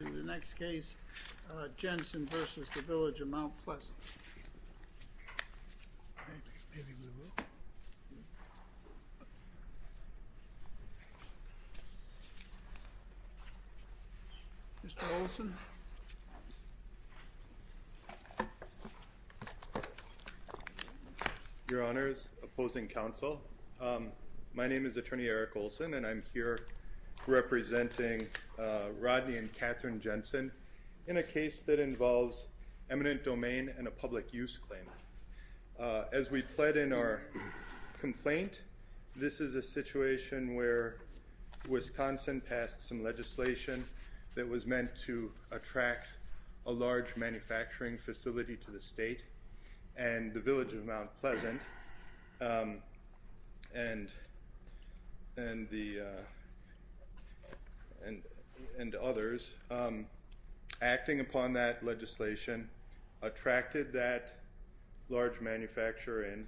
In the next case, Jensen v. Village of Mount Pleasant. Mr. Olson. Your Honors. Opposing counsel. My name is Attorney Eric Olson and I'm here representing Rodney and Katherine Jensen in a case that involves eminent domain and a public use claim. As we pled in our complaint, this is a situation where Wisconsin passed some legislation that was meant to attract a large manufacturing facility to the state and the Village of Mount Pleasant and others acting upon that legislation attracted that large manufacturer and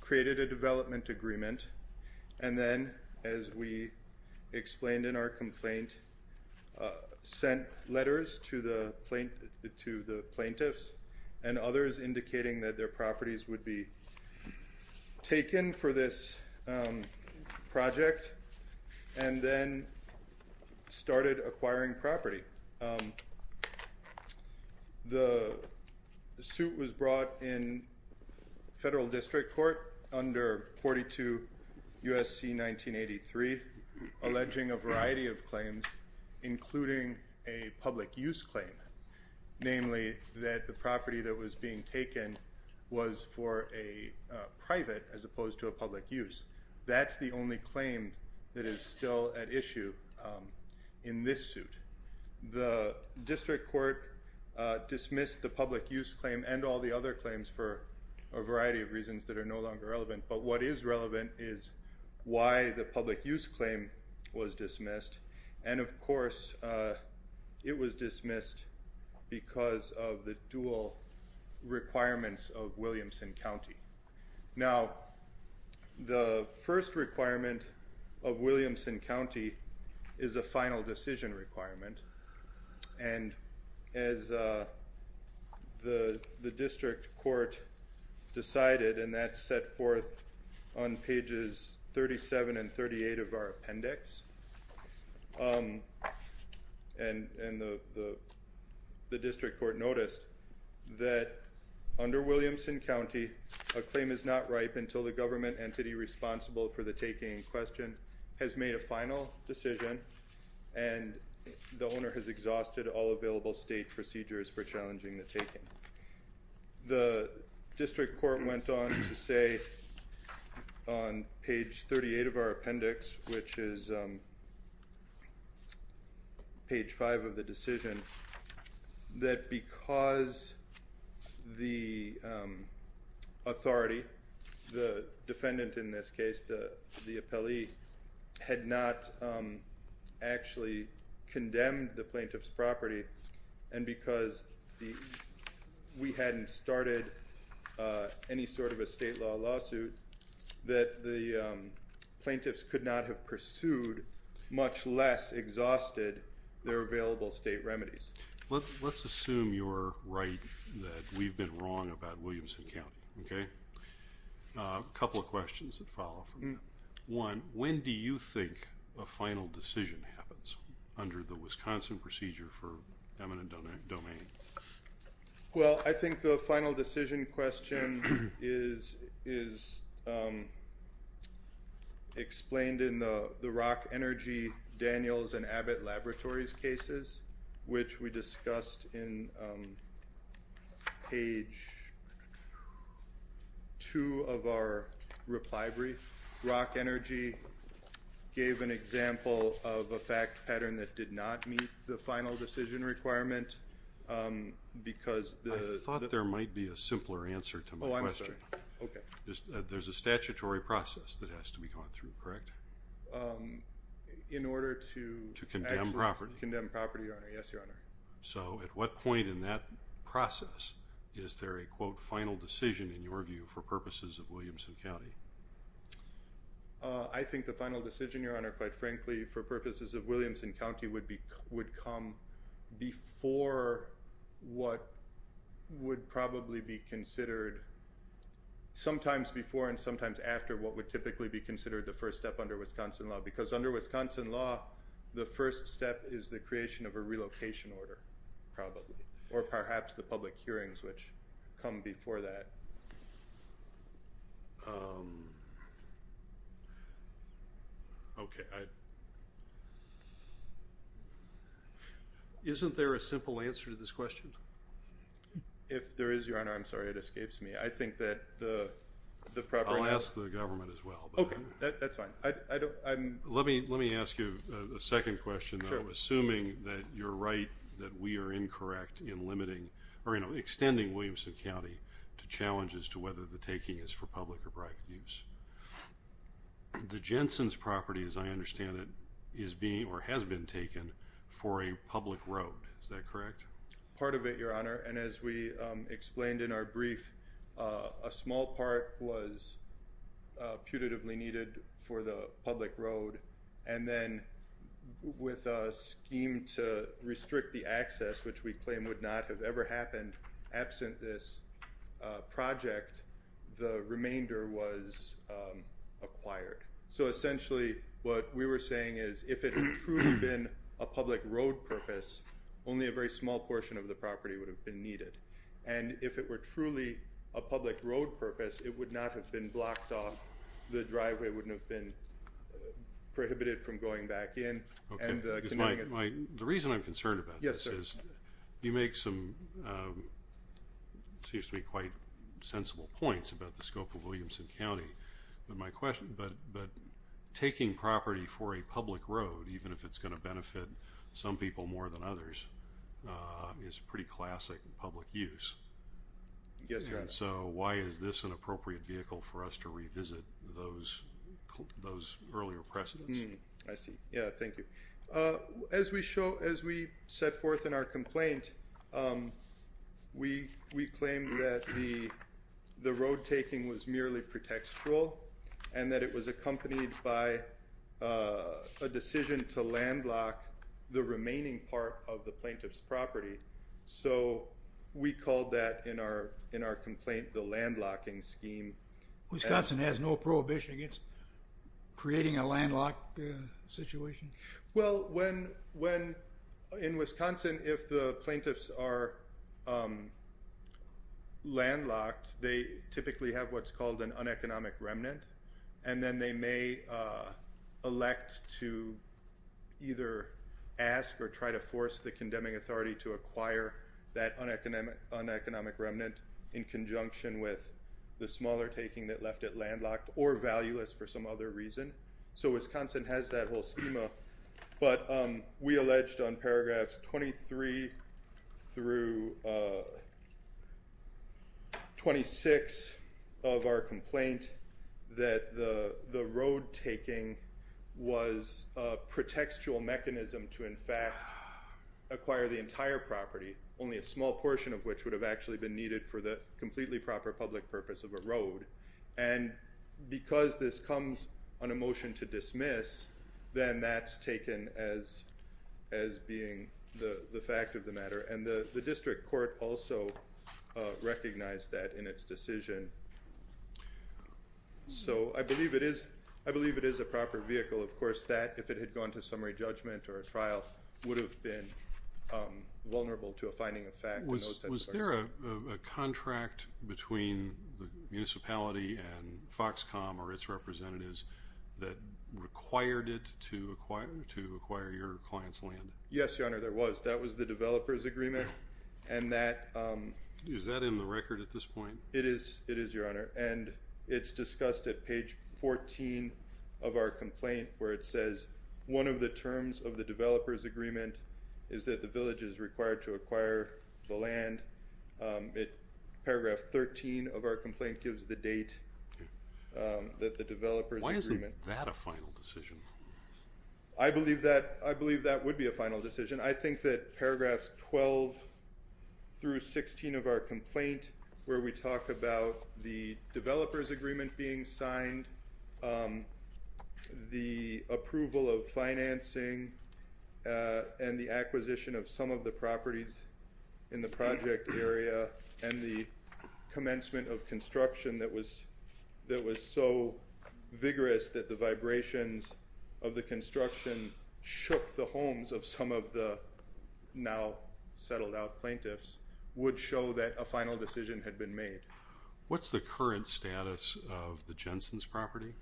created a development agreement. And then, as we explained in our complaint, sent letters to the plaintiffs and others indicating that their properties would be taken for this project and then started acquiring property. The suit was brought in federal district court under 42 U.S.C. 1983 alleging a variety of claims including a public use claim. Namely, that the property that was being taken was for a private as opposed to a public use. That's the only claim that is still at issue in this suit. The district court dismissed the public use claim and all the other claims for a variety of reasons that are no longer relevant. But what is relevant is why the public use claim was dismissed. And of course, it was dismissed because of the dual requirements of Williamson County. Now, the first requirement of Williamson County is a final decision requirement. And as the district court decided, and that's set forth on pages 37 and 38 of our appendix, and the district court noticed that under Williamson County, a claim is not ripe until the government entity responsible for the taking in question has made a final decision and the owner has exhausted all available state procedures for challenging the taking. The district court went on to say on page 38 of our appendix, which is page 5 of the decision, that because the authority, the defendant in this case, the appellee, had not actually condemned the plaintiff's property and because we hadn't started any sort of a state law lawsuit, that the plaintiffs could not have pursued, much less exhausted, their available state remedies. Let's assume you're right that we've been wrong about Williamson County, okay? A couple of questions that follow from that. One, when do you think a final decision happens under the Wisconsin procedure for eminent domain? Well, I think the final decision question is explained in the Rock Energy Daniels and Abbott Laboratories cases, which we discussed in page 2 of our reply brief. Rock Energy gave an example of a fact pattern that did not meet the final decision requirement because the- I thought there might be a simpler answer to my question. Oh, I'm sorry. Okay. There's a statutory process that has to be gone through, correct? In order to- To condemn property. To condemn property, Your Honor. Yes, Your Honor. So, at what point in that process is there a, quote, final decision, in your view, for purposes of Williamson County? I think the final decision, Your Honor, quite frankly, for purposes of Williamson County, would come before what would probably be considered- sometimes before and sometimes after what would typically be considered the first step under Wisconsin law because under Wisconsin law, the first step is the creation of a relocation order, probably, or perhaps the public hearings which come before that. Okay. Isn't there a simple answer to this question? If there is, Your Honor, I'm sorry, it escapes me. I think that the proper answer- I'll ask the government as well. Okay, that's fine. Let me ask you a second question. Sure. Assuming that you're right that we are incorrect in limiting or, you know, extending Williamson County to challenges to whether the taking is for public or private use. The Jensen's property, as I understand it, is being or has been taken for a public road. Is that correct? Part of it, Your Honor, and as we explained in our brief, a small part was putatively needed for the public road, and then with a scheme to restrict the access, which we claim would not have ever happened, absent this project, the remainder was acquired. So essentially what we were saying is if it had truly been a public road purpose, only a very small portion of the property would have been needed. And if it were truly a public road purpose, it would not have been blocked off. The driveway wouldn't have been prohibited from going back in. The reason I'm concerned about this is you make some, it seems to me, quite sensible points about the scope of Williamson County. But my question, but taking property for a public road, even if it's going to benefit some people more than others, is pretty classic in public use. Yes, Your Honor. So why is this an appropriate vehicle for us to revisit those earlier precedents? I see. Yeah, thank you. As we set forth in our complaint, we claimed that the road taking was merely pretextual and that it was accompanied by a decision to landlock the remaining part of the plaintiff's property. So we called that in our complaint the landlocking scheme. Wisconsin has no prohibition against creating a landlocked situation? Well, in Wisconsin, if the plaintiffs are landlocked, they typically have what's called an uneconomic remnant, and then they may elect to either ask or try to force the condemning authority to acquire that uneconomic remnant in conjunction with the smaller taking that left it landlocked or valueless for some other reason. So Wisconsin has that whole schema, but we alleged on paragraphs 23 through 26 of our complaint that the road taking was a pretextual mechanism to, in fact, acquire the entire property, only a small portion of which would have actually been needed for the completely proper public purpose of a road. And because this comes on a motion to dismiss, then that's taken as being the fact of the matter. And the district court also recognized that in its decision. So I believe it is a proper vehicle. Of course, that, if it had gone to summary judgment or a trial, would have been vulnerable to a finding of fact. Was there a contract between the municipality and Foxcom or its representatives that required it to acquire your client's land? Yes, Your Honor, there was. That was the developer's agreement. Is that in the record at this point? It is, Your Honor. And it's discussed at page 14 of our complaint where it says, one of the terms of the developer's agreement is that the village is required to acquire the land. Paragraph 13 of our complaint gives the date that the developer's agreement. Why isn't that a final decision? I believe that would be a final decision. I think that paragraphs 12 through 16 of our complaint, where we talk about the developer's agreement being signed, the approval of financing, and the acquisition of some of the properties in the project area, and the commencement of construction that was so vigorous that the vibrations of the construction shook the homes of some of the now-settled-out plaintiffs, would show that a final decision had been made. What's the current status of the Jensen's property?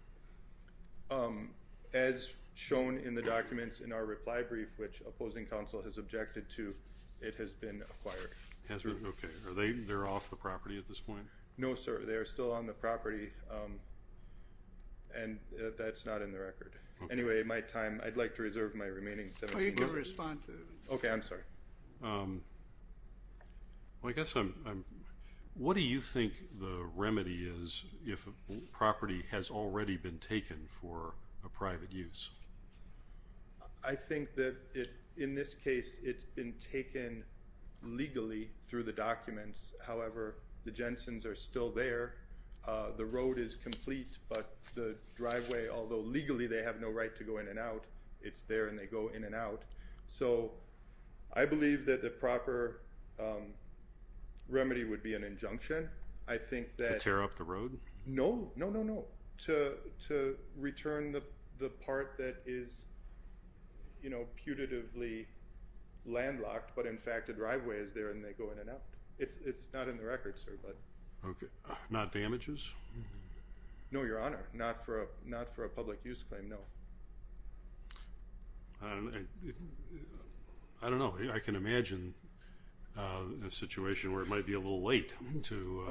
As shown in the documents in our reply brief, which opposing counsel has objected to, it has been acquired. Has been? Okay. Are they off the property at this point? No, sir. They are still on the property, and that's not in the record. Okay. Anyway, my time, I'd like to reserve my remaining 17 minutes. You can respond to it. Okay. I'm sorry. Well, I guess I'm, what do you think the remedy is if a property has already been taken for a private use? I think that in this case, it's been taken legally through the documents. However, the Jensen's are still there. The road is complete, but the driveway, although legally they have no right to go in and out, it's there and they go in and out. So, I believe that the proper remedy would be an injunction. I think that. To tear up the road? No. No, no, no. To return the part that is, you know, putatively landlocked, but in fact the driveway is there and they go in and out. It's not in the record, sir, but. Okay. Not damages? No, Your Honor. Not for a public use claim, no. I don't know. I can imagine a situation where it might be a little late to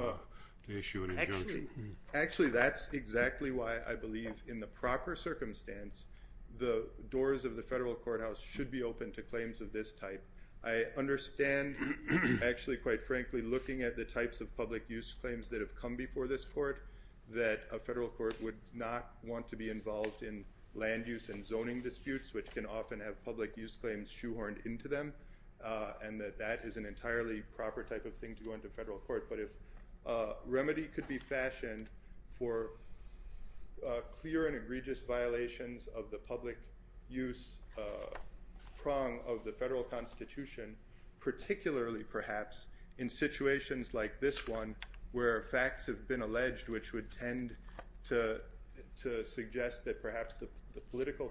issue an injunction. Actually, that's exactly why I believe in the proper circumstance, the doors of the federal courthouse should be open to claims of this type. I understand, actually, quite frankly, looking at the types of public use claims that have come before this court, that a federal court would not want to be involved in land use and zoning disputes, which can often have public use claims shoehorned into them, and that that is an entirely proper type of thing to go into federal court. But if a remedy could be fashioned for clear and egregious violations of the public use prong of the federal constitution, particularly perhaps in situations like this one where facts have been alleged, which would tend to suggest that perhaps the political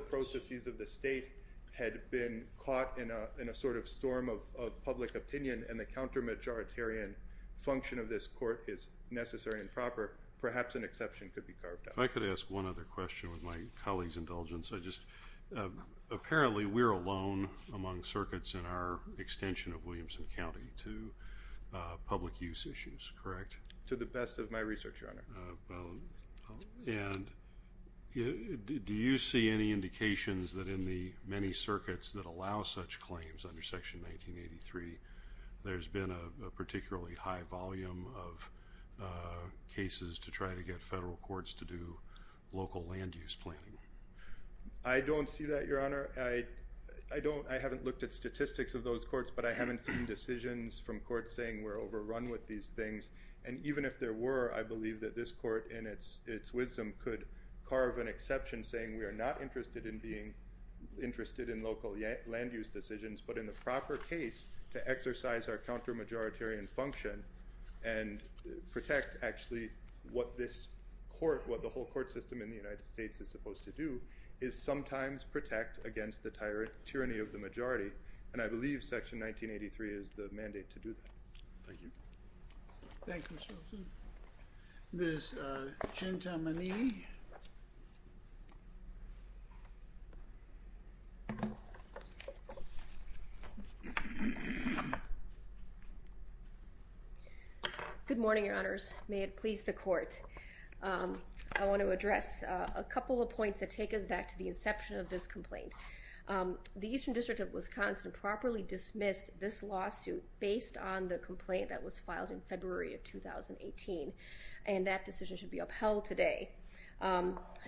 processes of the state had been caught in a sort of storm of public opinion and the counter-majoritarian function of this court is necessary and proper, perhaps an exception could be carved out. If I could ask one other question with my colleague's indulgence. Apparently, we're alone among circuits in our extension of Williamson County to public use issues, correct? To the best of my research, Your Honor. And do you see any indications that in the many circuits that allow such claims under Section 1983, there's been a particularly high volume of cases to try to get federal courts to do local land use planning? I don't see that, Your Honor. I haven't looked at statistics of those courts, but I haven't seen decisions from courts saying we're overrun with these things. And even if there were, I believe that this court, in its wisdom, could carve an exception saying we are not interested in being interested in local land use decisions, but in the proper case to exercise our counter-majoritarian function and protect actually what this court, what the whole court system in the United States is supposed to do, is sometimes protect against the tyranny of the majority. And I believe Section 1983 is the mandate to do that. Thank you. Thank you, Mr. Wilson. Ms. Chintamanee. Good morning, Your Honors. May it please the Court. I want to address a couple of points that take us back to the inception of this complaint. The Eastern District of Wisconsin properly dismissed this lawsuit based on the complaint that was filed in February of 2018, and that decision should be upheld today.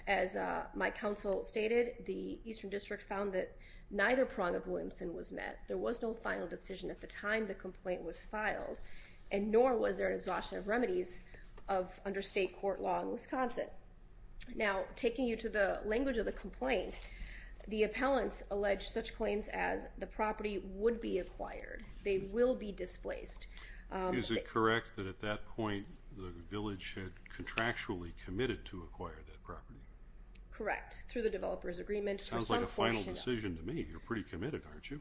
As my counsel stated, the Eastern District found that neither prong of Williamson was met. There was no final decision at the time the complaint was filed, and nor was there an exhaustion of remedies under state court law in Wisconsin. Now, taking you to the language of the complaint, the appellants alleged such claims as the property would be acquired, they will be displaced. Is it correct that at that point the village had contractually committed to acquire that property? Correct, through the developer's agreement. Sounds like a final decision to me. You're pretty committed, aren't you?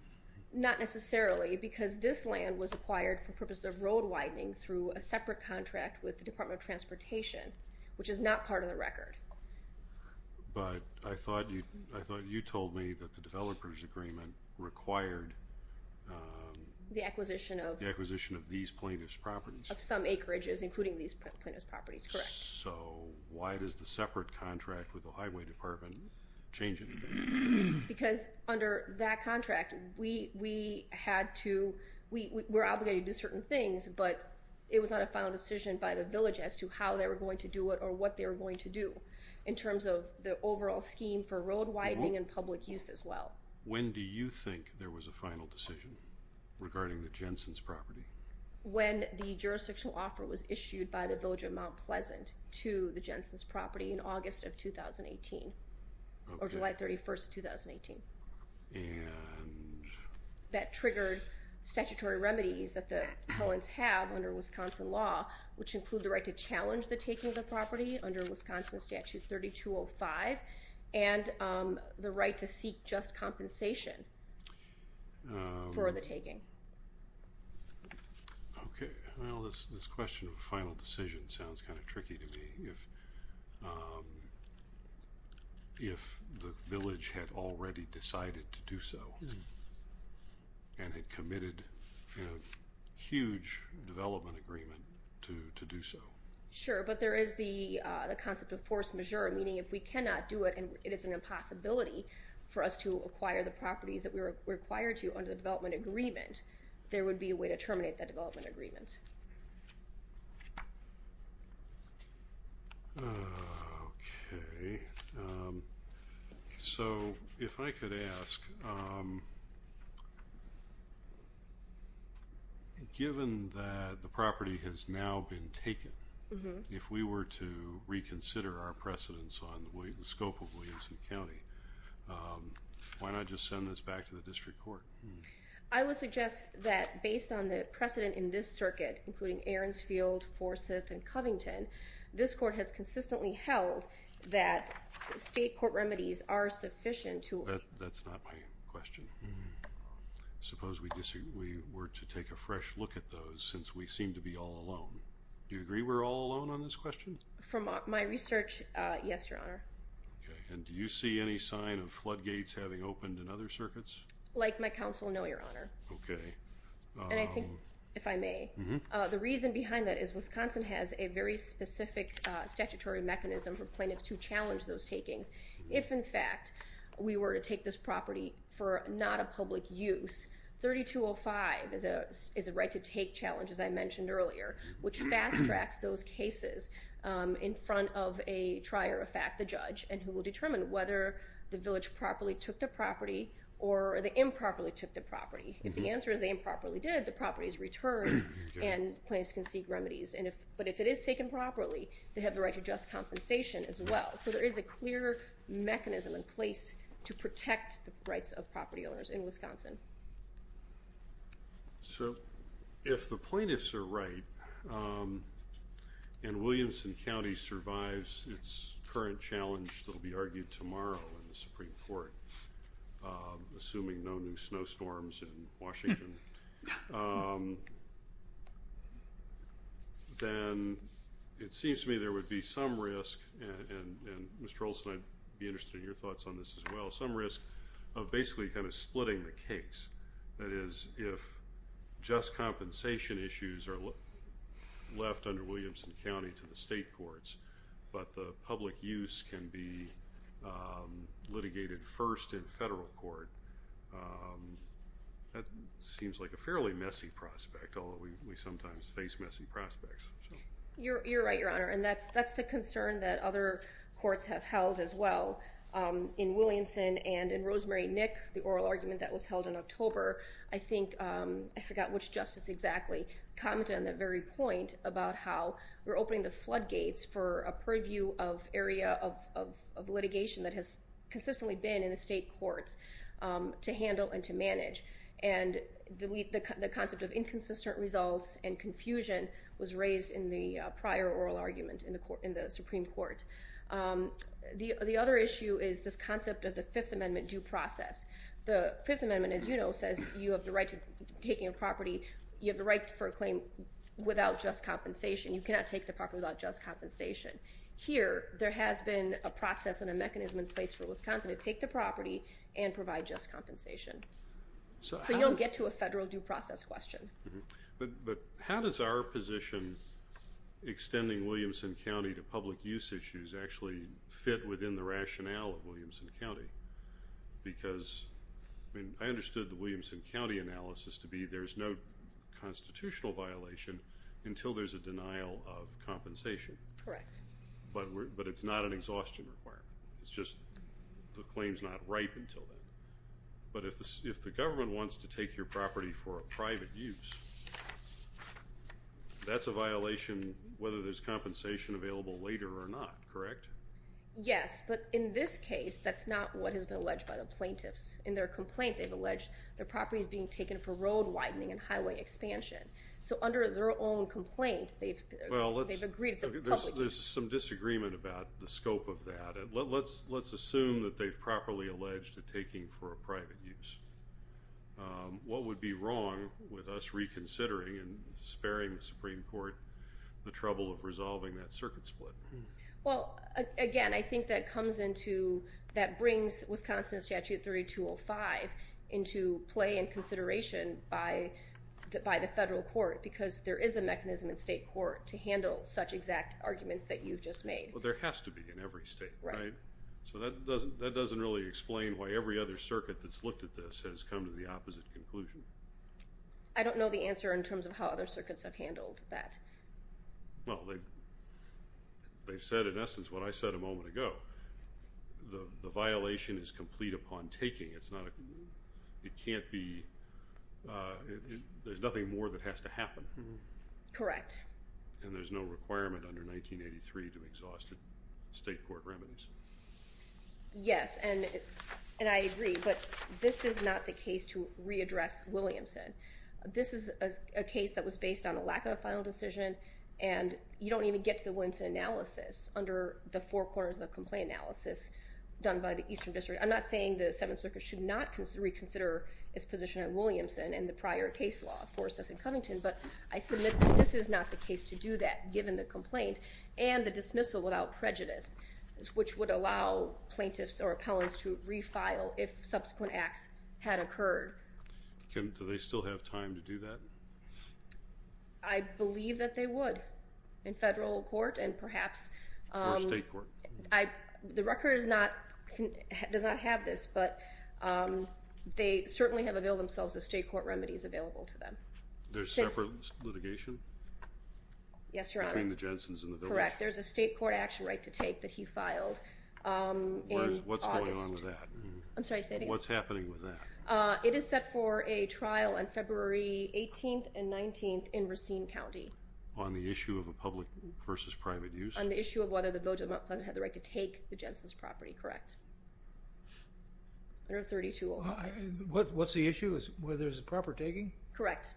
Not necessarily, because this land was acquired for purposes of road widening through a separate contract with the Department of Transportation, which is not part of the record. But I thought you told me that the developer's agreement required the acquisition of these plaintiff's properties. Of some acreages, including these plaintiff's properties, correct. So why does the separate contract with the highway department change anything? Because under that contract, we had to, we were obligated to do certain things, but it was not a final decision by the village as to how they were going to do it or what they were going to do in terms of the overall scheme for road widening and public use as well. When do you think there was a final decision regarding the Jensen's property? When the jurisdictional offer was issued by the village of Mount Pleasant to the Jensen's property in August of 2018, or July 31st of 2018. And? That triggered statutory remedies that the Hellens have under Wisconsin law, which include the right to challenge the taking of the property under Wisconsin Statute 3205 and the right to seek just compensation for the taking. Okay, well this question of a final decision sounds kind of tricky to me. If the village had already decided to do so, and had committed a huge development agreement to do so. Sure, but there is the concept of force majeure, meaning if we cannot do it and it is an impossibility for us to acquire the properties that we were required to under the development agreement, there would be a way to terminate that development agreement. Okay, so if I could ask, given that the property has now been taken, if we were to reconsider our precedence on the scope of Williamson County, why not just send this back to the district court? I would suggest that based on the precedent in this circuit, including Aronsfield, Forsyth, and Covington, this court has consistently held that state court remedies are sufficient to... That's not my question. Suppose we were to take a fresh look at those since we seem to be all alone. Do you agree we're all alone on this question? From my research, yes, your honor. Okay, and do you see any sign of floodgates having opened in other circuits? Like my counsel, no, your honor. Okay. And I think, if I may, the reason behind that is Wisconsin has a very specific statutory mechanism for plaintiffs to challenge those takings. If, in fact, we were to take this property for not a public use, 3205 is a right to take challenge, as I mentioned earlier, which fast-tracks those cases in front of a trier, a fact, a judge, and who will determine whether the village properly took the property or they improperly took the property. If the answer is they improperly did, the property is returned and plaintiffs can seek remedies. But if it is taken properly, they have the right to just compensation as well. So there is a clear mechanism in place to protect the rights of property owners in Wisconsin. So if the plaintiffs are right and Williamson County survives its current challenge that will be argued tomorrow in the Supreme Court, assuming no new snowstorms in Washington, then it seems to me there would be some risk, and Mr. Olson, I'd be interested in your thoughts on this as well, some risk of basically kind of splitting the case. That is, if just compensation issues are left under Williamson County to the state courts but the public use can be litigated first in federal court, that seems like a fairly messy prospect, although we sometimes face messy prospects. You're right, Your Honor, and that's the concern that other courts have held as well. In Williamson and in Rosemary Nick, the oral argument that was held in October, I think, I forgot which justice exactly, commented on that very point about how we're opening the floodgates for a purview of area of litigation that has consistently been in the state courts to handle and to manage. And the concept of inconsistent results and confusion was raised in the prior oral argument in the Supreme Court. The other issue is this concept of the Fifth Amendment due process. The Fifth Amendment, as you know, says you have the right to take your property, you have the right for a claim without just compensation. You cannot take the property without just compensation. Here, there has been a process and a mechanism in place for Wisconsin to take the property and provide just compensation. So you don't get to a federal due process question. But how does our position extending Williamson County to public use issues actually fit within the rationale of Williamson County? Because I understood the Williamson County analysis to be there's no constitutional violation until there's a denial of compensation. Correct. But it's not an exhaustion requirement. It's just the claim's not ripe until then. But if the government wants to take your property for a private use, that's a violation whether there's compensation available later or not, correct? Yes, but in this case, that's not what has been alleged by the plaintiffs. In their complaint, they've alleged their property is being taken for road widening and highway expansion. So under their own complaint, they've agreed it's a public use. There's some disagreement about the scope of that. Let's assume that they've properly alleged a taking for a private use. What would be wrong with us reconsidering and sparing the Supreme Court the trouble of resolving that circuit split? Well, again, I think that brings Wisconsin Statute 3205 into play and consideration by the federal court because there is a mechanism in state court to handle such exact arguments that you've just made. Well, there has to be in every state, right? So that doesn't really explain why every other circuit that's looked at this has come to the opposite conclusion. I don't know the answer in terms of how other circuits have handled that. Well, they've said in essence what I said a moment ago. The violation is complete upon taking. It can't be – there's nothing more that has to happen. Correct. And there's no requirement under 1983 to exhaust state court remedies. Yes, and I agree, but this is not the case to readdress Williamson. This is a case that was based on a lack of a final decision, and you don't even get to the Williamson analysis under the four corners of the complaint analysis done by the Eastern District. I'm not saying the Seventh Circuit should not reconsider its position on Williamson and the prior case law for Sessom-Covington, but I submit that this is not the case to do that given the complaint and the dismissal without prejudice, which would allow plaintiffs or appellants to refile if subsequent acts had occurred. Do they still have time to do that? I believe that they would in federal court and perhaps... Or state court. The record does not have this, but they certainly have availed themselves of state court remedies available to them. There's separate litigation? Yes, Your Honor. Between the Jensen's and the Village? Correct. There's a state court action right to take that he filed in August. What's going on with that? I'm sorry, say it again. What's happening with that? It is set for a trial on February 18th and 19th in Racine County. On the issue of a public versus private use? On the issue of whether the Village of Mount Pleasant had the right to take the Jensen's property, correct? Under 3205. What's the issue? Whether there's a proper taking? Correct.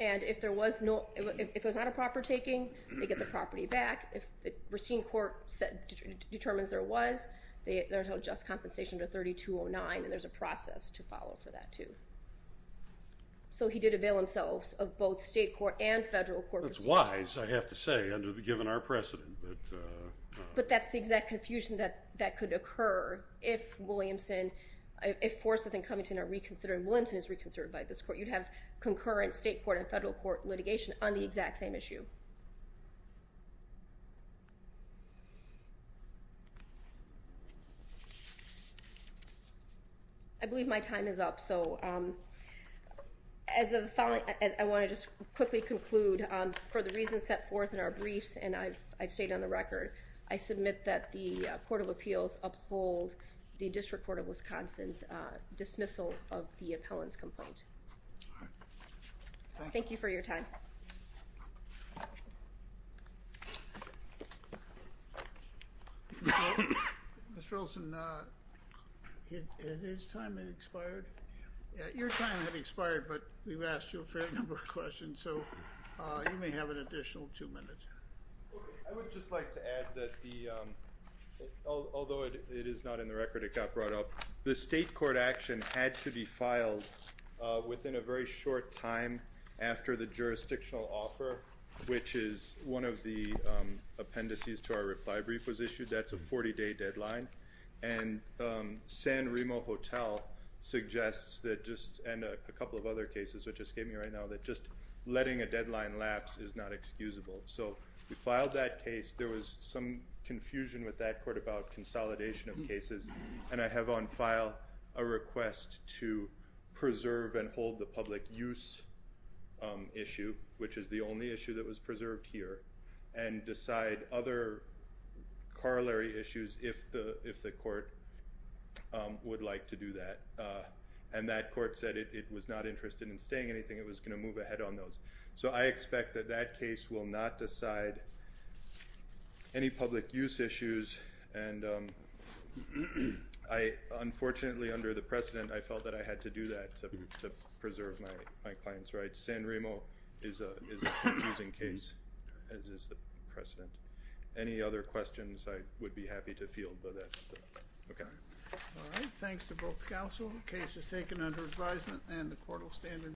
And if there was not a proper taking, they get the property back. If Racine Court determines there was, they're entitled to just compensation under 3209, and there's a process to follow for that too. So he did avail himself of both state court and federal court procedures. That's wise, I have to say, given our precedent. But that's the exact confusion that could occur if Williamson, if Forsyth and Covington are reconsidered, and Williamson is reconsidered by this court, you'd have concurrent state court and federal court litigation on the exact same issue. I believe my time is up. So as of the following, I want to just quickly conclude. For the reasons set forth in our briefs, and I've stated on the record, I submit that the Court of Appeals uphold the District Court of Wisconsin's dismissal of the appellant's complaint. Thank you for your time. Mr. Olson, is his time expired? Your time has expired, but we've asked you a fair number of questions, so you may have an additional two minutes. I would just like to add that although it is not in the record, it got brought up, the state court action had to be filed within a very short time after the jurisdictional offer, which is one of the appendices to our reply brief was issued. That's a 40-day deadline. And San Remo Hotel suggests that just, and a couple of other cases, which escaped me right now, that just letting a deadline lapse is not excusable. So we filed that case. There was some confusion with that court about consolidation of cases, and I have on file a request to preserve and hold the public use issue, which is the only issue that was preserved here, and decide other corollary issues if the court would like to do that. And that court said it was not interested in staying anything, it was going to move ahead on those. So I expect that that case will not decide any public use issues, and I unfortunately under the precedent, I felt that I had to do that to preserve my client's rights. San Remo is a confusing case, as is the precedent. Any other questions, I would be happy to field, but that's it. Okay. All right, thanks to both counsel.